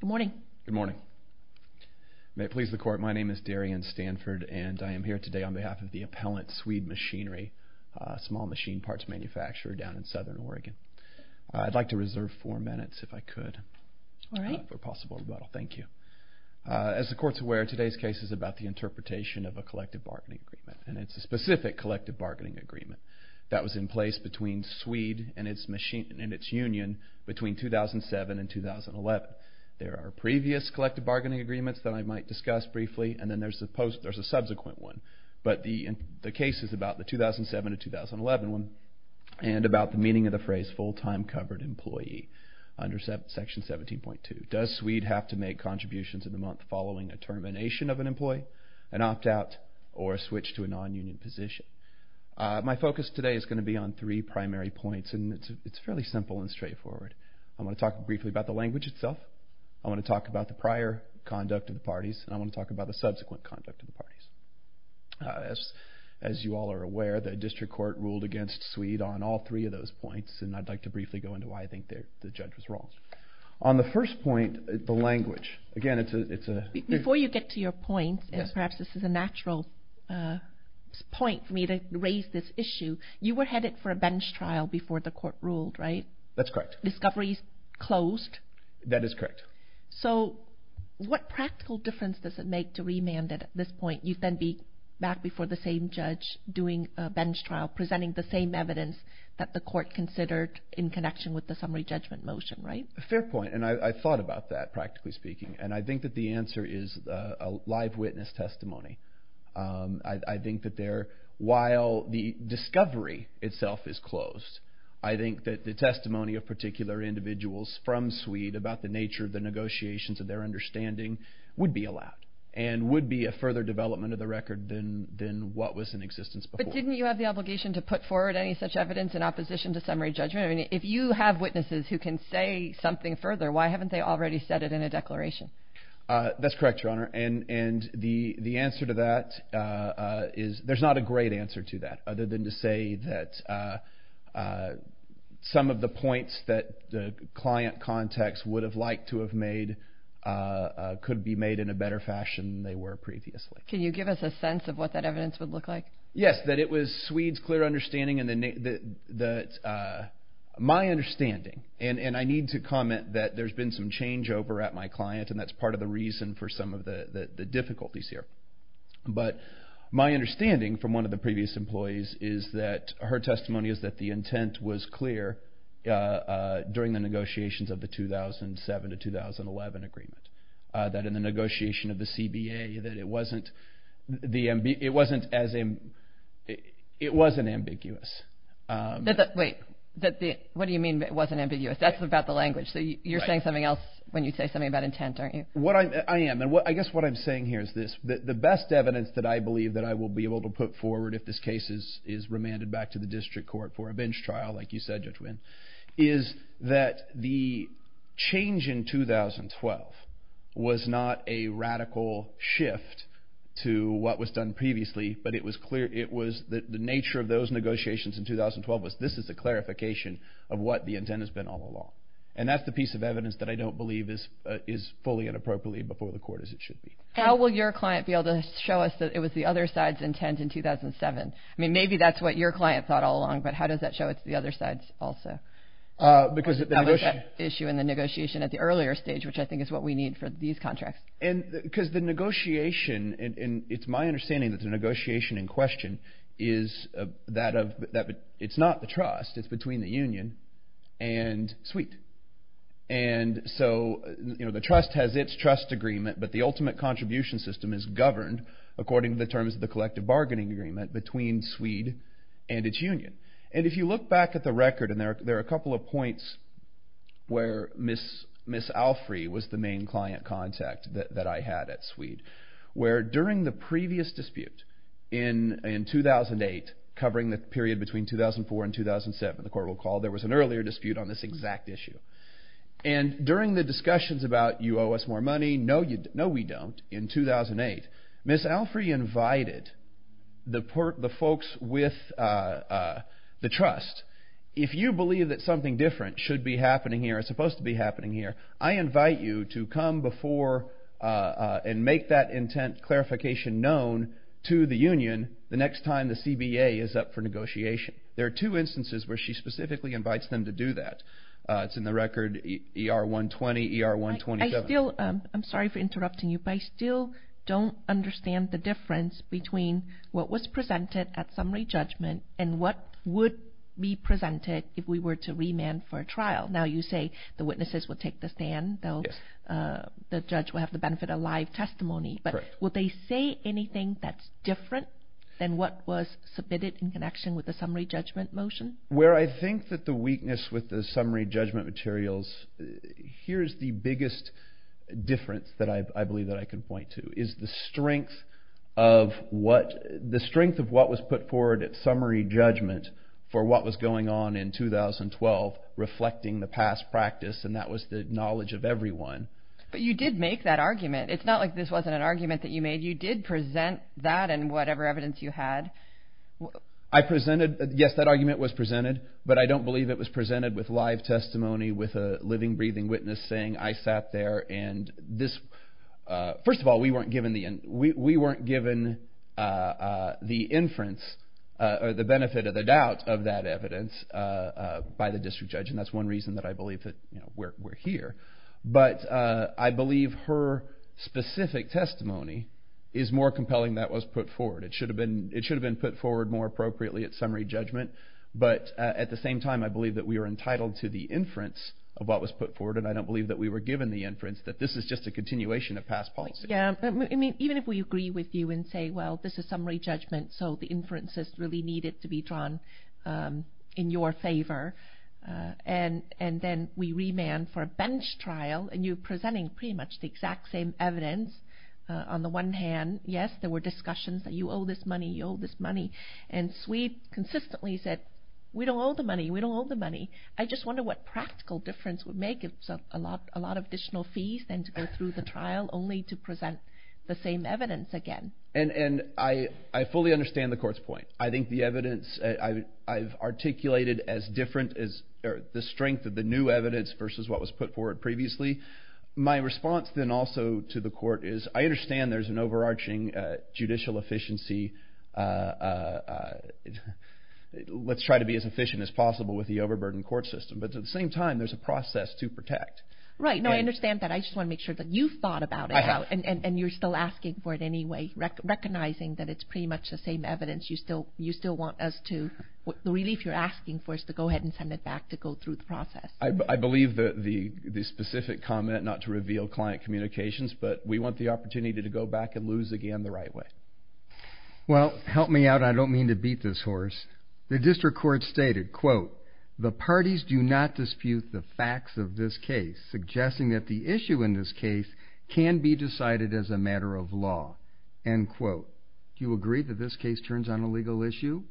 Good morning. Good morning. May it please the court, my name is Darian Stanford and I am here today on behalf of the appellant Sweed Machinery, a small machine parts manufacturer down in southern Oregon. I'd like to reserve four minutes if I could. All right. For possible rebuttal, thank you. As the court's aware, today's case is about the interpretation of a collective bargaining agreement and it's a specific collective bargaining agreement that was in place between Sweed and its machine and its union between 2007 and 2011. There are previous collective bargaining agreements that I might discuss briefly and then there's a subsequent one. But the case is about the 2007 to 2011 one and about the meaning of the phrase full-time covered employee under section 17.2. Does Sweed have to make contributions in the month following a termination of an employee, an opt-out, or a switch to a non-union position? My focus today is going to be on three primary points and it's fairly simple and straightforward. I'm going to talk briefly about the language itself, I'm going to talk about the prior conduct of the parties, and I'm going to talk about the subsequent conduct of the parties. As you all are aware, the district court ruled against Sweed on all three of those points and I'd like to briefly go into why I think the judge was wrong. On the first point, the language, again it's a... Before you get to your point, and perhaps this is a natural point for me to raise this issue, you were headed for a bench trial before the court ruled, right? That's correct. The discovery is closed? That is correct. So what practical difference does it make to remand at this point? You'd then be back before the same judge doing a bench trial presenting the same evidence that the court considered in connection with the summary judgment motion, right? Fair point, and I thought about that, practically speaking, and I think that the answer is a live witness testimony. I think that while the discovery itself is closed, I think that the testimony of particular individuals from Sweed about the nature of the negotiations and their understanding would be allowed and would be a further development of the record than what was in existence before. Didn't you have the obligation to put forward any such evidence in opposition to summary judgment? If you have witnesses who can say something further, why haven't they already said it in a declaration? That's correct, Your Honor, and the answer to that is... There's not a great answer to that other than to say that some of the points that the client context would have liked to have made could be made in a better fashion than they were previously. Can you give us a sense of what that evidence would look like? Wait, what do you mean it wasn't ambiguous? That's about the language, so you're saying something else when you say something about intent, aren't you? I guess what I'm saying here is this. The best evidence that I believe that I will be able to put forward if this case is remanded back to the district court for a bench trial, like you said, Judge Winn, is that the change in 2012 was not a radical shift to what was done previously, but the nature of those negotiations in 2012 was this is a clarification of what the intent has been all along. And that's the piece of evidence that I don't believe is fully and appropriately before the court as it should be. How will your client be able to show us that it was the other side's intent in 2007? I mean, maybe that's what your client thought all along, but how does that show it's the other side's also? That was the issue in the negotiation at the earlier stage, which I think is what we need for these contracts. Because the negotiation, and it's my understanding that the negotiation in question is that it's not the trust, it's between the union and SWEET. And so the trust has its trust agreement, but the ultimate contribution system is governed according to the terms of the collective bargaining agreement between SWEET and its union. And if you look back at the record, and there are a couple of points where Ms. Alfrey was the main client contact that I had at SWEET, where during the previous dispute in 2008, covering the period between 2004 and 2007, the court will recall, there was an earlier dispute on this exact issue. And during the discussions about you owe us more money, no we don't, in 2008, Ms. Alfrey invited the folks with the trust, if you believe that something different should be happening here or is supposed to be happening here, I invite you to come before and make that intent clarification known to the union the next time the CBA is up for negotiation. There are two instances where she specifically invites them to do that. It's in the record ER 120, ER 127. I still, I'm sorry for interrupting you, but I still don't understand the difference between what was presented at summary judgment and what would be presented if we were to remand for a trial. Now you say the witnesses would take the stand, the judge would have the benefit of live testimony, but would they say anything that's different than what was submitted in connection with the summary judgment motion? Where I think that the weakness with the summary judgment materials, here's the biggest difference that I believe that I can point to, is the strength of what was put forward at summary judgment for what was going on in 2012, reflecting the past practice and that was the knowledge of everyone. But you did make that argument. It's not like this wasn't an argument that you made. You did present that and whatever evidence you had. I presented, yes that argument was presented, but I don't believe it was presented with live testimony with a living, breathing witness saying I sat there and this, first of all we weren't given the inference or the benefit of the doubt of that evidence by the district judge and that's one reason that I believe that we're here. But I believe her specific testimony is more compelling that was put forward. It should have been put forward more appropriately at summary judgment, but at the same time I believe that we are entitled to the inference of what was put forward and I don't believe that we were given the inference that this is just a continuation of past policy. Even if we agree with you and say well this is summary judgment so the inference is really needed to be drawn in your favor and then we remand for a bench trial and you're presenting pretty much the exact same evidence on the one hand, yes there were discussions that you owe this money, you owe this money and Sweet consistently said we don't owe the money, we don't owe the money. I just wonder what practical difference would make it a lot of additional fees than to go through the trial only to present the same evidence again. And I fully understand the court's point. I think the evidence I've articulated as different as the strength of the new evidence versus what was put forward previously. My response then also to the court is I understand there's an overarching judicial efficiency. Let's try to be as efficient as possible with the overburden court system, but at the same time there's a process to protect. Right, now I understand that. I just want to make sure that you've thought about it and you're still asking for it anyway, recognizing that it's pretty much the same evidence you still want us to, the relief you're asking for is to go ahead and send it back to go through the process. I believe that the specific comment not to reveal client communications, but we want the opportunity to go back and lose again the right way. Well, help me out, I don't mean to beat this horse. The district court stated, quote, the parties do not dispute the facts of this case, suggesting that the issue in this case can be decided as a matter of law. End quote. Do you agree that this case turns on a legal issue?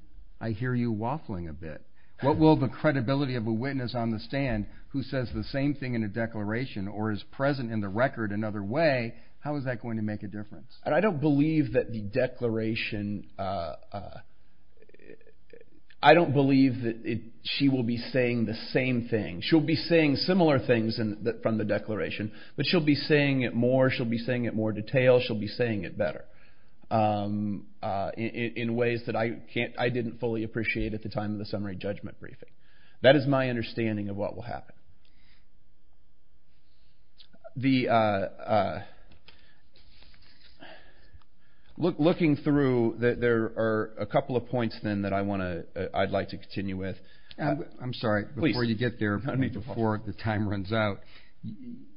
I hear you waffling a bit. What will the credibility of a witness on the stand who says the same thing in a declaration or is present in the record another way, how is that going to make a difference? I don't believe that the declaration, I don't believe that she will be saying the same thing. She'll be saying similar things from the declaration, but she'll be saying it more, she'll be saying it more detailed, she'll be saying it better in ways that I didn't fully appreciate at the time of the summary judgment briefing. That is my understanding of what will happen. Looking through, there are a couple of points then that I'd like to continue with. I'm sorry, before you get there, before the time runs out,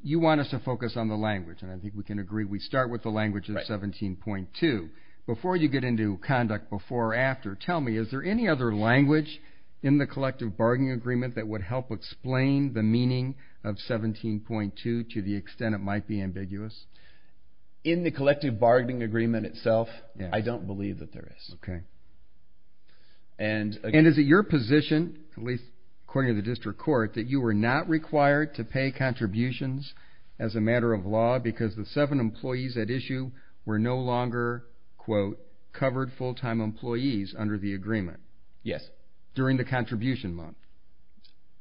you want us to focus on the language, and I think we can agree we start with the language of 17.2. Before you get into conduct before or after, tell me, is there any other language in the collective bargaining agreement that would help explain the meaning of 17.2 to the extent it might be ambiguous? In the collective bargaining agreement itself, I don't believe that there is. And is it your position, at least according to the district court, that you were not required to pay contributions as a matter of law because the seven employees at issue were no longer, quote, covered full-time employees under the agreement? Yes. During the contribution month?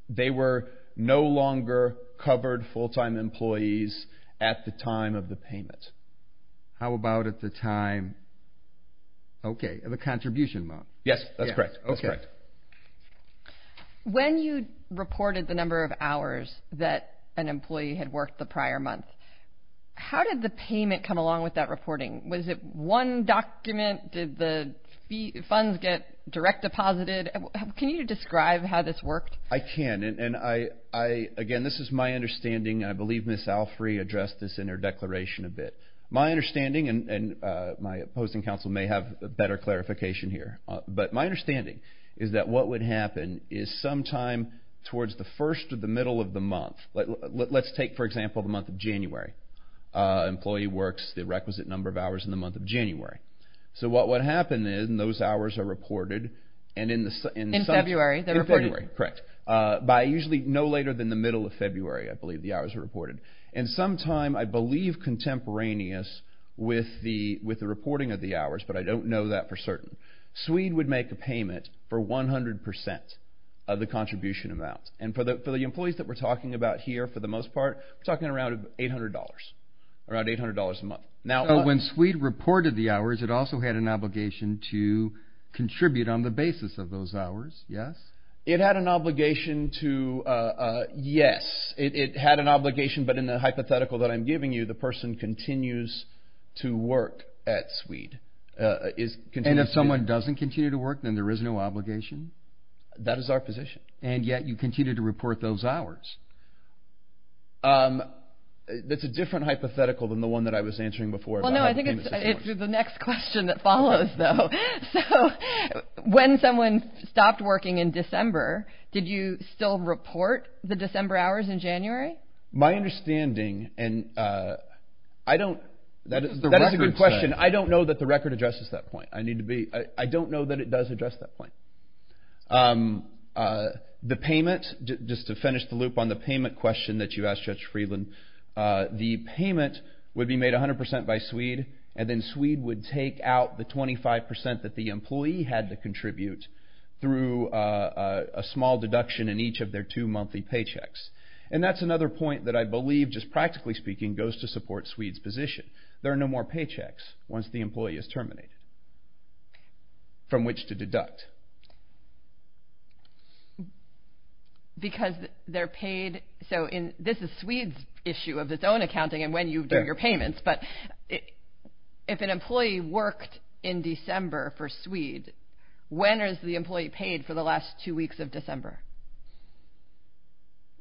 They were no longer covered full-time employees at the time of the payment. How about at the time, okay, of the contribution month? Yes, that's correct. When you reported the number of hours that an employee had worked the prior month, how did the payment come along with that reporting? Was it one document? Did the funds get direct deposited? Can you describe how this worked? I can, and again, this is my understanding, and I believe Ms. Alfrey addressed this in her declaration a bit. My understanding, and my opposing counsel may have a better clarification here, but my understanding is that what would happen is sometime towards the first or the middle of the month. Let's take, for example, the month of January. An employee works the requisite number of hours in the month of January. So what would happen is those hours are reported. In February? In February, correct. By usually no later than the middle of February, I believe, the hours are reported. And sometime, I believe contemporaneous with the reporting of the hours, but I don't know that for certain, Swede would make a payment for 100% of the contribution amount. And for the employees that we're talking about here, for the most part, we're talking around $800, around $800 a month. So when Swede reported the hours, it also had an obligation to contribute on the basis of those hours, yes? It had an obligation to, yes. It had an obligation, but in the hypothetical that I'm giving you, the person continues to work at Swede. And if someone doesn't continue to work, then there is no obligation? That is our position. And yet you continue to report those hours. That's a different hypothetical than the one that I was answering before. Well, no, I think it's the next question that follows, though. So when someone stopped working in December, did you still report the December hours in January? My understanding, and I don't, that is a good question. I don't know that the record addresses that point. I need to be, I don't know that it does address that point. The payment, just to finish the loop on the payment question that you asked, Judge Friedland, the payment would be made 100% by Swede, and then Swede would take out the 25% that the employee had to contribute through a small deduction in each of their two monthly paychecks. And that's another point that I believe, just practically speaking, goes to support Swede's position. There are no more paychecks once the employee is terminated from which to deduct. Because they're paid, so this is Swede's issue of its own accounting and when you do your payments, but if an employee worked in December for Swede, when is the employee paid for the last two weeks of December?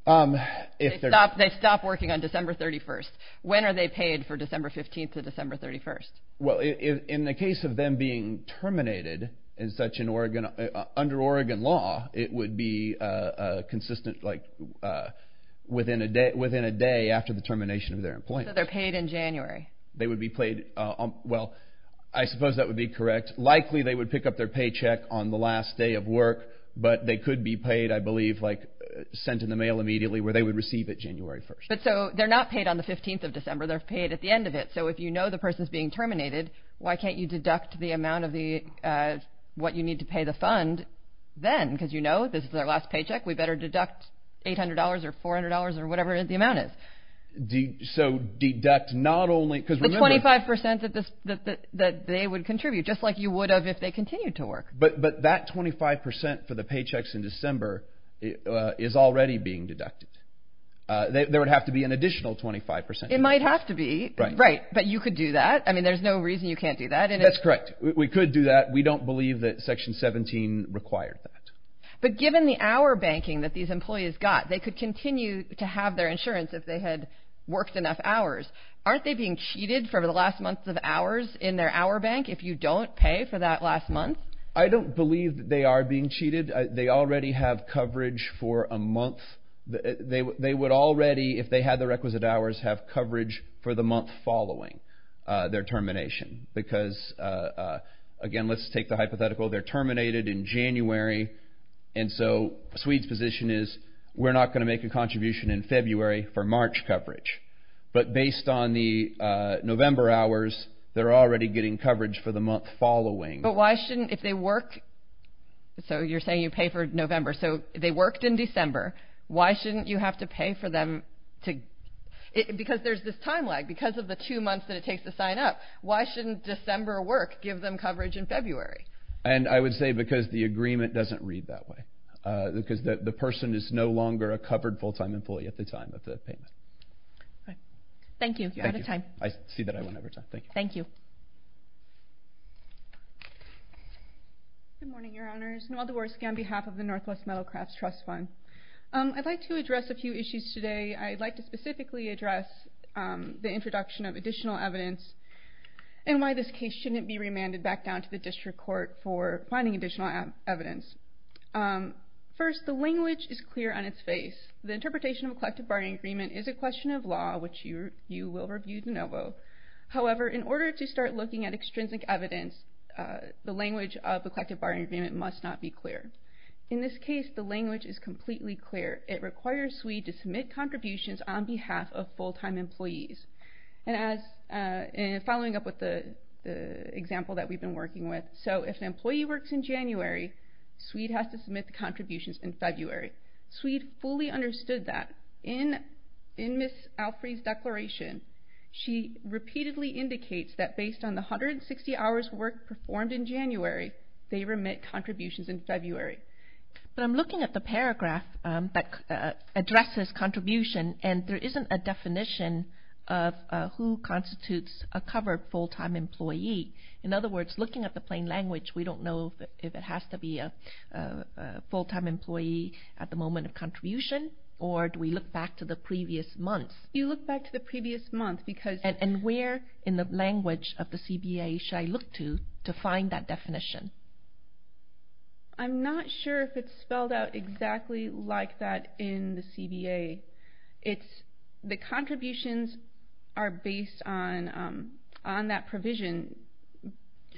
They stop working on December 31st. When are they paid for December 15th to December 31st? Well, in the case of them being terminated in such an organization, under Oregon law, it would be consistent within a day after the termination of their employment. So they're paid in January. They would be paid, well, I suppose that would be correct. Likely they would pick up their paycheck on the last day of work, but they could be paid, I believe, sent in the mail immediately where they would receive it January 1st. So they're not paid on the 15th of December, they're paid at the end of it. So if you know the person is being terminated, why can't you deduct the amount of what you need to pay the fund then? Because you know this is their last paycheck. We better deduct $800 or $400 or whatever the amount is. So deduct not only – The 25% that they would contribute just like you would have if they continued to work. But that 25% for the paychecks in December is already being deducted. There would have to be an additional 25%. It might have to be. Right, but you could do that. I mean, there's no reason you can't do that. That's correct. We could do that. We don't believe that Section 17 required that. But given the hour banking that these employees got, they could continue to have their insurance if they had worked enough hours. Aren't they being cheated for the last months of hours in their hour bank if you don't pay for that last month? I don't believe they are being cheated. They already have coverage for a month. They would already, if they had the requisite hours, have coverage for the month following their termination. Because, again, let's take the hypothetical. They're terminated in January. And so Swede's position is we're not going to make a contribution in February for March coverage. But based on the November hours, they're already getting coverage for the month following. But why shouldn't – if they work – So you're saying you pay for November. So they worked in December. Why shouldn't you have to pay for them to – because there's this time lag. Because of the two months that it takes to sign up, why shouldn't December work give them coverage in February? And I would say because the agreement doesn't read that way. Because the person is no longer a covered full-time employee at the time of the payment. Thank you. You're out of time. I see that I went over time. Thank you. Thank you. Good morning, Your Honors. Noelle Dvorsky on behalf of the Northwest Metal Crafts Trust Fund. I'd like to address a few issues today. I'd like to specifically address the introduction of additional evidence and why this case shouldn't be remanded back down to the district court for finding additional evidence. First, the language is clear on its face. The interpretation of a collective bargaining agreement is a question of law, which you will review de novo. However, in order to start looking at extrinsic evidence, the language of a collective bargaining agreement must not be clear. In this case, the language is completely clear. It requires SWEED to submit contributions on behalf of full-time employees. And following up with the example that we've been working with, so if an employee works in January, SWEED has to submit the contributions in February. SWEED fully understood that. In Ms. Alfrey's declaration, she repeatedly indicates that based on the 160 hours of work performed in January, they remit contributions in February. But I'm looking at the paragraph that addresses contribution, and there isn't a definition of who constitutes a covered full-time employee. In other words, looking at the plain language, we don't know if it has to be a full-time employee at the moment of contribution, or do we look back to the previous month? You look back to the previous month because... And where in the language of the CBA should I look to to find that definition? I'm not sure if it's spelled out exactly like that in the CBA. The contributions are based on that provision,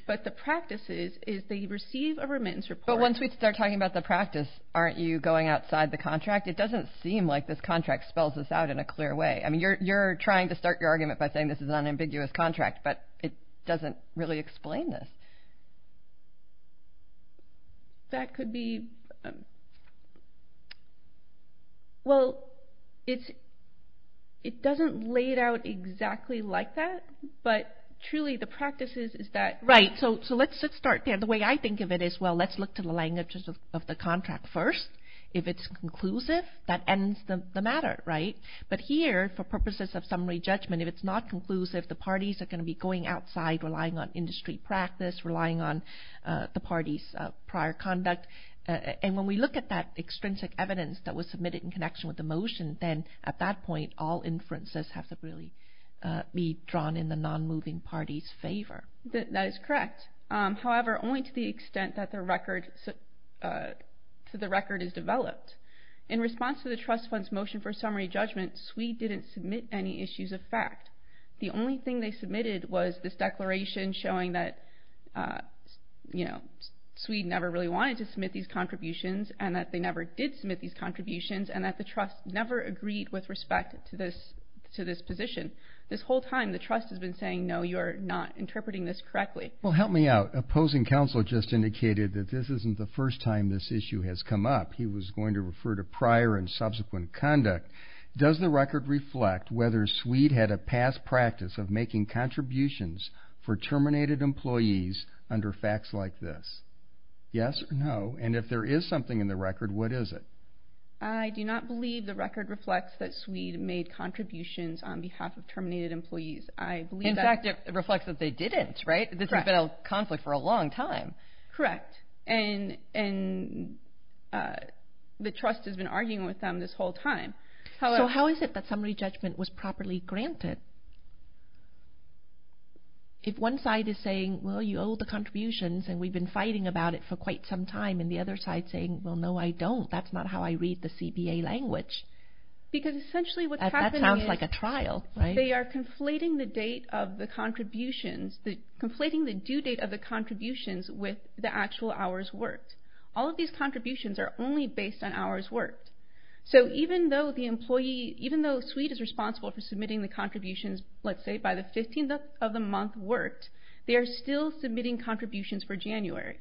but the practice is they receive a remittance report. But once we start talking about the practice, aren't you going outside the contract? It doesn't seem like this contract spells this out in a clear way. I mean, you're trying to start your argument by saying this is an unambiguous contract, but it doesn't really explain this. That could be... Well, it doesn't lay it out exactly like that, but truly the practice is that... Right, so let's start there. The way I think of it is, well, let's look to the languages of the contract first. If it's conclusive, that ends the matter, right? But here, for purposes of summary judgment, if it's not conclusive, the parties are going to be going outside, relying on industry practice, relying on the party's prior conduct. And when we look at that extrinsic evidence that was submitted in connection with the motion, then at that point all inferences have to really be drawn in the non-moving party's favor. That is correct. However, only to the extent that the record is developed. In response to the trust fund's motion for summary judgment, Swede didn't submit any issues of fact. The only thing they submitted was this declaration showing that, you know, Swede never really wanted to submit these contributions and that they never did submit these contributions and that the trust never agreed with respect to this position. This whole time the trust has been saying, no, you are not interpreting this correctly. Well, help me out. Opposing counsel just indicated that this isn't the first time this issue has come up. He was going to refer to prior and subsequent conduct. Does the record reflect whether Swede had a past practice of making contributions for terminated employees under facts like this? Yes or no? And if there is something in the record, what is it? I do not believe the record reflects that Swede made contributions on behalf of terminated employees. In fact, it reflects that they didn't, right? This has been a conflict for a long time. Correct. And the trust has been arguing with them this whole time. So how is it that summary judgment was properly granted? If one side is saying, well, you owe the contributions and we've been fighting about it for quite some time, and the other side is saying, well, no, I don't. That's not how I read the CBA language. Because essentially what's happening is they are conflating the date of the contributions. They're conflating the due date of the contributions with the actual hours worked. All of these contributions are only based on hours worked. So even though Swede is responsible for submitting the contributions, let's say, by the 15th of the month worked, they are still submitting contributions for January.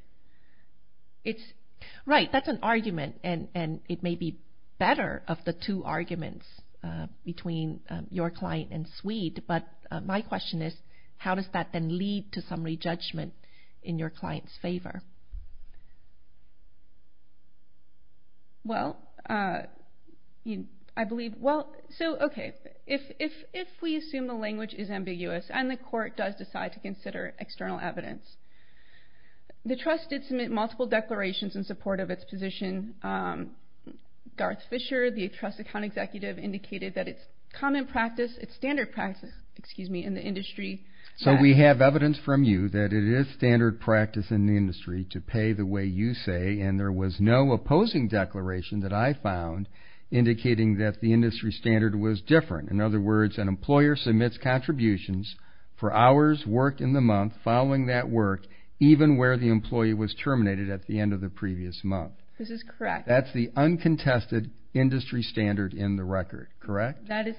Right, that's an argument, and it may be better of the two arguments between your client and Swede. But my question is, how does that then lead to summary judgment in your client's favor? Well, I believe, well, so, okay, if we assume the language is ambiguous and the court does decide to consider external evidence, the trust did submit multiple declarations in support of its position. Garth Fisher, the trust account executive, indicated that it's common practice, it's standard practice, excuse me, in the industry. So we have evidence from you that it is standard practice in the industry to pay the way you say, and there was no opposing declaration that I found indicating that the industry standard was different. In other words, an employer submits contributions for hours worked in the month following that work even where the employee was terminated at the end of the previous month. This is correct. That's the uncontested industry standard in the record, correct? That is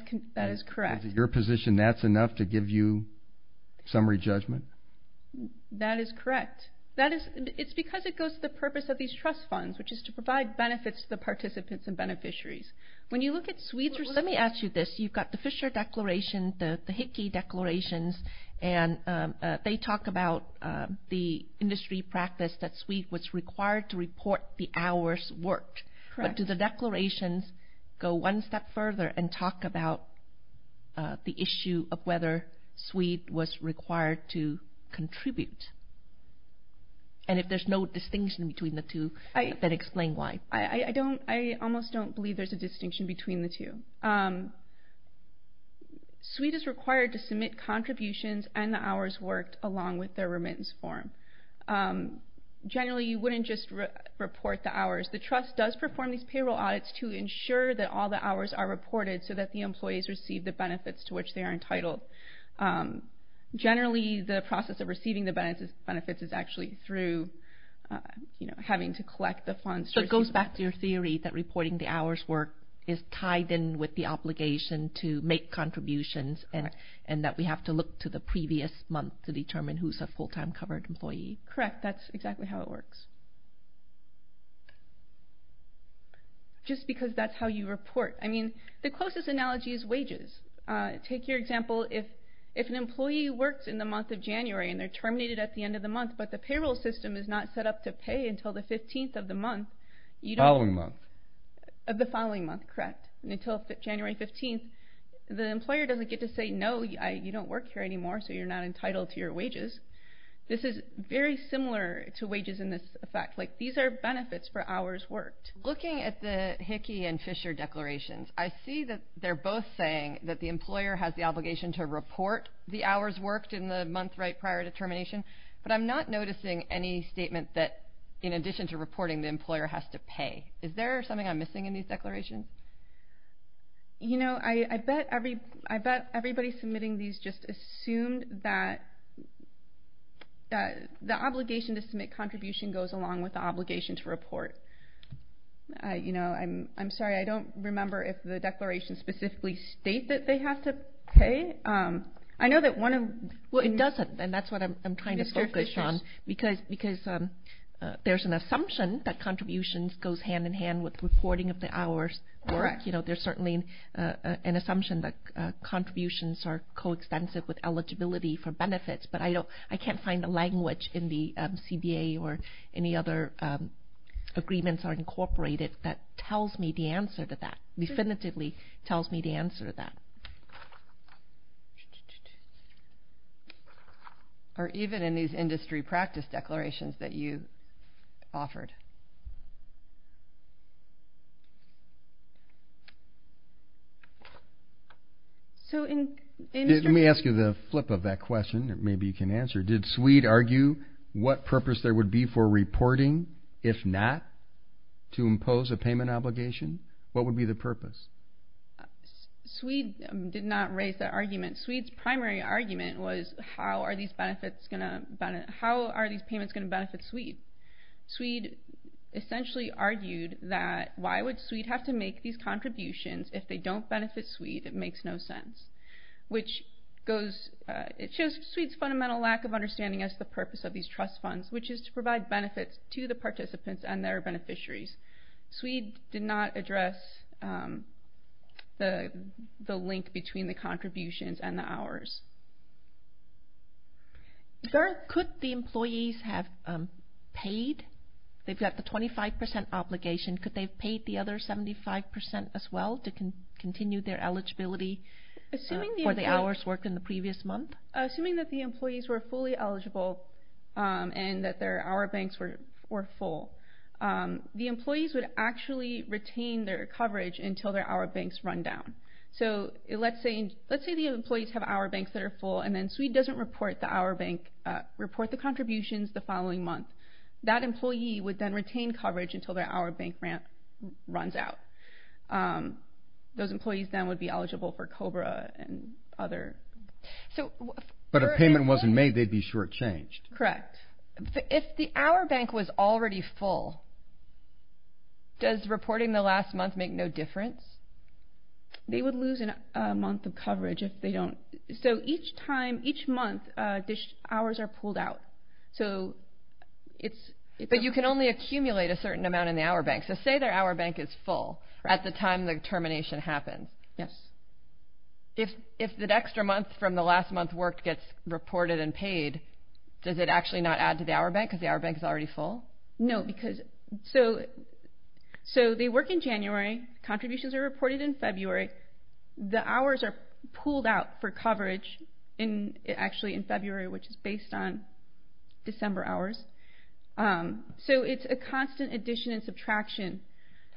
correct. Is it your position that's enough to give you summary judgment? That is correct. It's because it goes to the purpose of these trust funds, which is to provide benefits to the participants and beneficiaries. When you look at Swede's, let me ask you this. You've got the Fisher declaration, the Hickey declarations, and they talk about the industry practice that Swede was required to report the hours worked. But do the declarations go one step further and talk about the issue of whether Swede was required to contribute? And if there's no distinction between the two, then explain why. I almost don't believe there's a distinction between the two. Swede is required to submit contributions and the hours worked along with their remittance form. Generally, you wouldn't just report the hours. The trust does perform these payroll audits to ensure that all the hours are reported so that the employees receive the benefits to which they are entitled. Generally, the process of receiving the benefits is actually through having to collect the funds. So it goes back to your theory that reporting the hours worked is tied in with the obligation to make contributions and that we have to look to the previous month to determine who's a full-time covered employee. Correct. That's exactly how it works. Just because that's how you report. I mean, the closest analogy is wages. Take your example. If an employee works in the month of January and they're terminated at the end of the month, but the payroll system is not set up to pay until the 15th of the month. The following month. The following month, correct. Until January 15th, the employer doesn't get to say, no, you don't work here anymore, so you're not entitled to your wages. This is very similar to wages in this effect. Like, these are benefits for hours worked. Looking at the Hickey and Fisher declarations, I see that they're both saying that the employer has the obligation to report the hours worked in the month right prior to termination. But I'm not noticing any statement that, in addition to reporting, the employer has to pay. Is there something I'm missing in these declarations? You know, I bet everybody submitting these just assumed that the obligation to submit contribution goes along with the obligation to report. I'm sorry, I don't remember if the declarations specifically state that they have to pay. Well, it doesn't, and that's what I'm trying to focus on. Because there's an assumption that contributions goes hand in hand with reporting of the hours. There's certainly an assumption that contributions are coextensive with eligibility for benefits, but I can't find the language in the CBA or any other agreements or incorporated that tells me the answer to that, or even in these industry practice declarations that you offered. Let me ask you the flip of that question that maybe you can answer. Did Swede argue what purpose there would be for reporting if not to impose a payment obligation? What would be the purpose? Swede did not raise that argument. Swede's primary argument was how are these payments going to benefit Swede? Swede essentially argued that why would Swede have to make these contributions if they don't benefit Swede? It makes no sense. It shows Swede's fundamental lack of understanding as to the purpose of these trust funds, which is to provide benefits to the participants and their beneficiaries. Swede did not address the link between the contributions and the hours. Could the employees have paid? They've got the 25% obligation. Could they have paid the other 75% as well to continue their eligibility for the hours worked in the previous month? Assuming that the employees were fully eligible and that their hour banks were full, the employees would actually retain their coverage until their hour banks run down. Let's say the employees have hour banks that are full, and then Swede doesn't report the contributions the following month. That employee would then retain coverage until their hour bank runs out. Those employees then would be eligible for COBRA and other... But if payment wasn't made, they'd be shortchanged. Correct. If the hour bank was already full, does reporting the last month make no difference? They would lose a month of coverage if they don't... So each time, each month, the hours are pulled out. So it's... But you can only accumulate a certain amount in the hour bank. So say their hour bank is full at the time the termination happens. Yes. If that extra month from the last month worked gets reported and paid, does it actually not add to the hour bank because the hour bank is already full? No, because... So they work in January. Contributions are reported in February. The hours are pulled out for coverage actually in February, which is based on December hours. So it's a constant addition and subtraction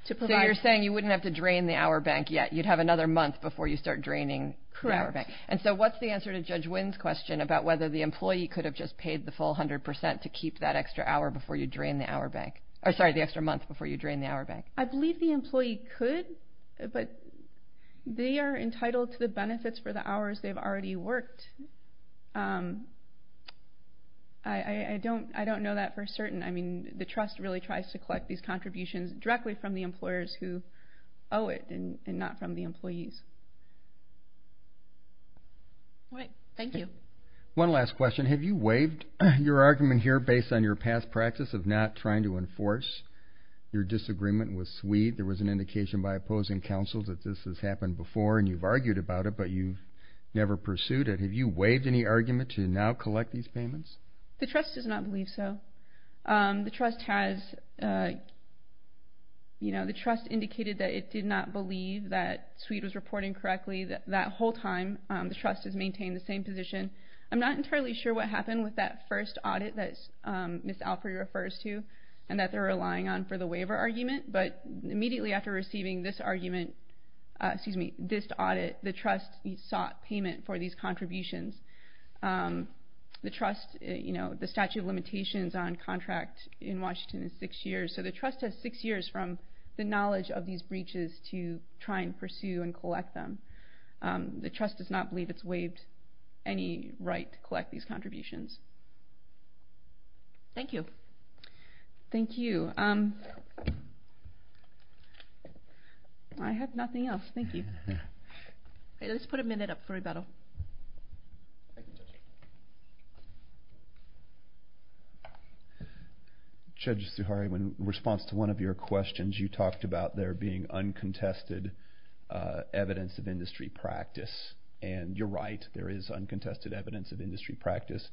to provide... So you're saying you wouldn't have to drain the hour bank yet. You'd have another month before you start draining the hour bank. Correct. And so what's the answer to Judge Wynn's question about whether the employee could have just paid the full 100% to keep that extra hour before you drain the hour bank? Or sorry, the extra month before you drain the hour bank? I believe the employee could, but they are entitled to the benefits for the hours they've already worked. I don't know that for certain. I mean, the trust really tries to collect these contributions directly from the employers who owe it and not from the employees. All right. Thank you. One last question. Have you waived your argument here based on your past practice of not trying to enforce? Your disagreement was sweet. There was an indication by opposing counsel that this has happened before, and you've argued about it, but you've never pursued it. Have you waived any argument to now collect these payments? The trust does not believe so. The trust has indicated that it did not believe that Sweet was reporting correctly. That whole time the trust has maintained the same position. I'm not entirely sure what happened with that first audit that Ms. Alfrey refers to and that they're relying on for the waiver argument, but immediately after receiving this audit, the trust sought payment for these contributions. The trust, you know, the statute of limitations on contract in Washington is six years, so the trust has six years from the knowledge of these breaches to try and pursue and collect them. The trust does not believe it's waived any right to collect these contributions. Thank you. Thank you. I have nothing else. Thank you. Let's put a minute up for rebuttal. Judge Suhari, in response to one of your questions, you talked about there being uncontested evidence of industry practice, and you're right. There is uncontested evidence of industry practice.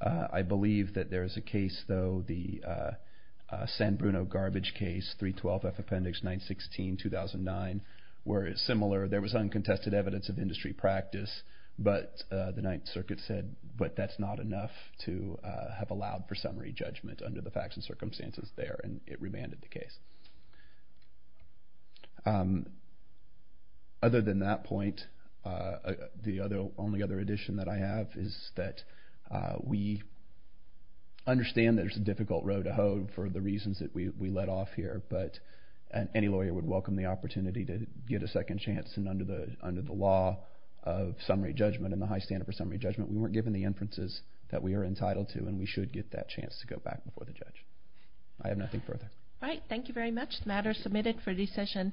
I believe that there is a case, though, the San Bruno garbage case, 312F Appendix 916, 2009, where it's similar. There was uncontested evidence of industry practice, but the Ninth Circuit said, but that's not enough to have allowed for summary judgment under the facts and circumstances there, and it remanded the case. Other than that point, the only other addition that I have is that we understand there's a difficult road to hoe for the reasons that we let off here, but any lawyer would welcome the opportunity to get a second chance, and under the law of summary judgment and the high standard for summary judgment, we weren't given the inferences that we are entitled to, and we should get that chance to go back before the judge. I have nothing further. All right. Thank you very much. The matter is submitted for decision.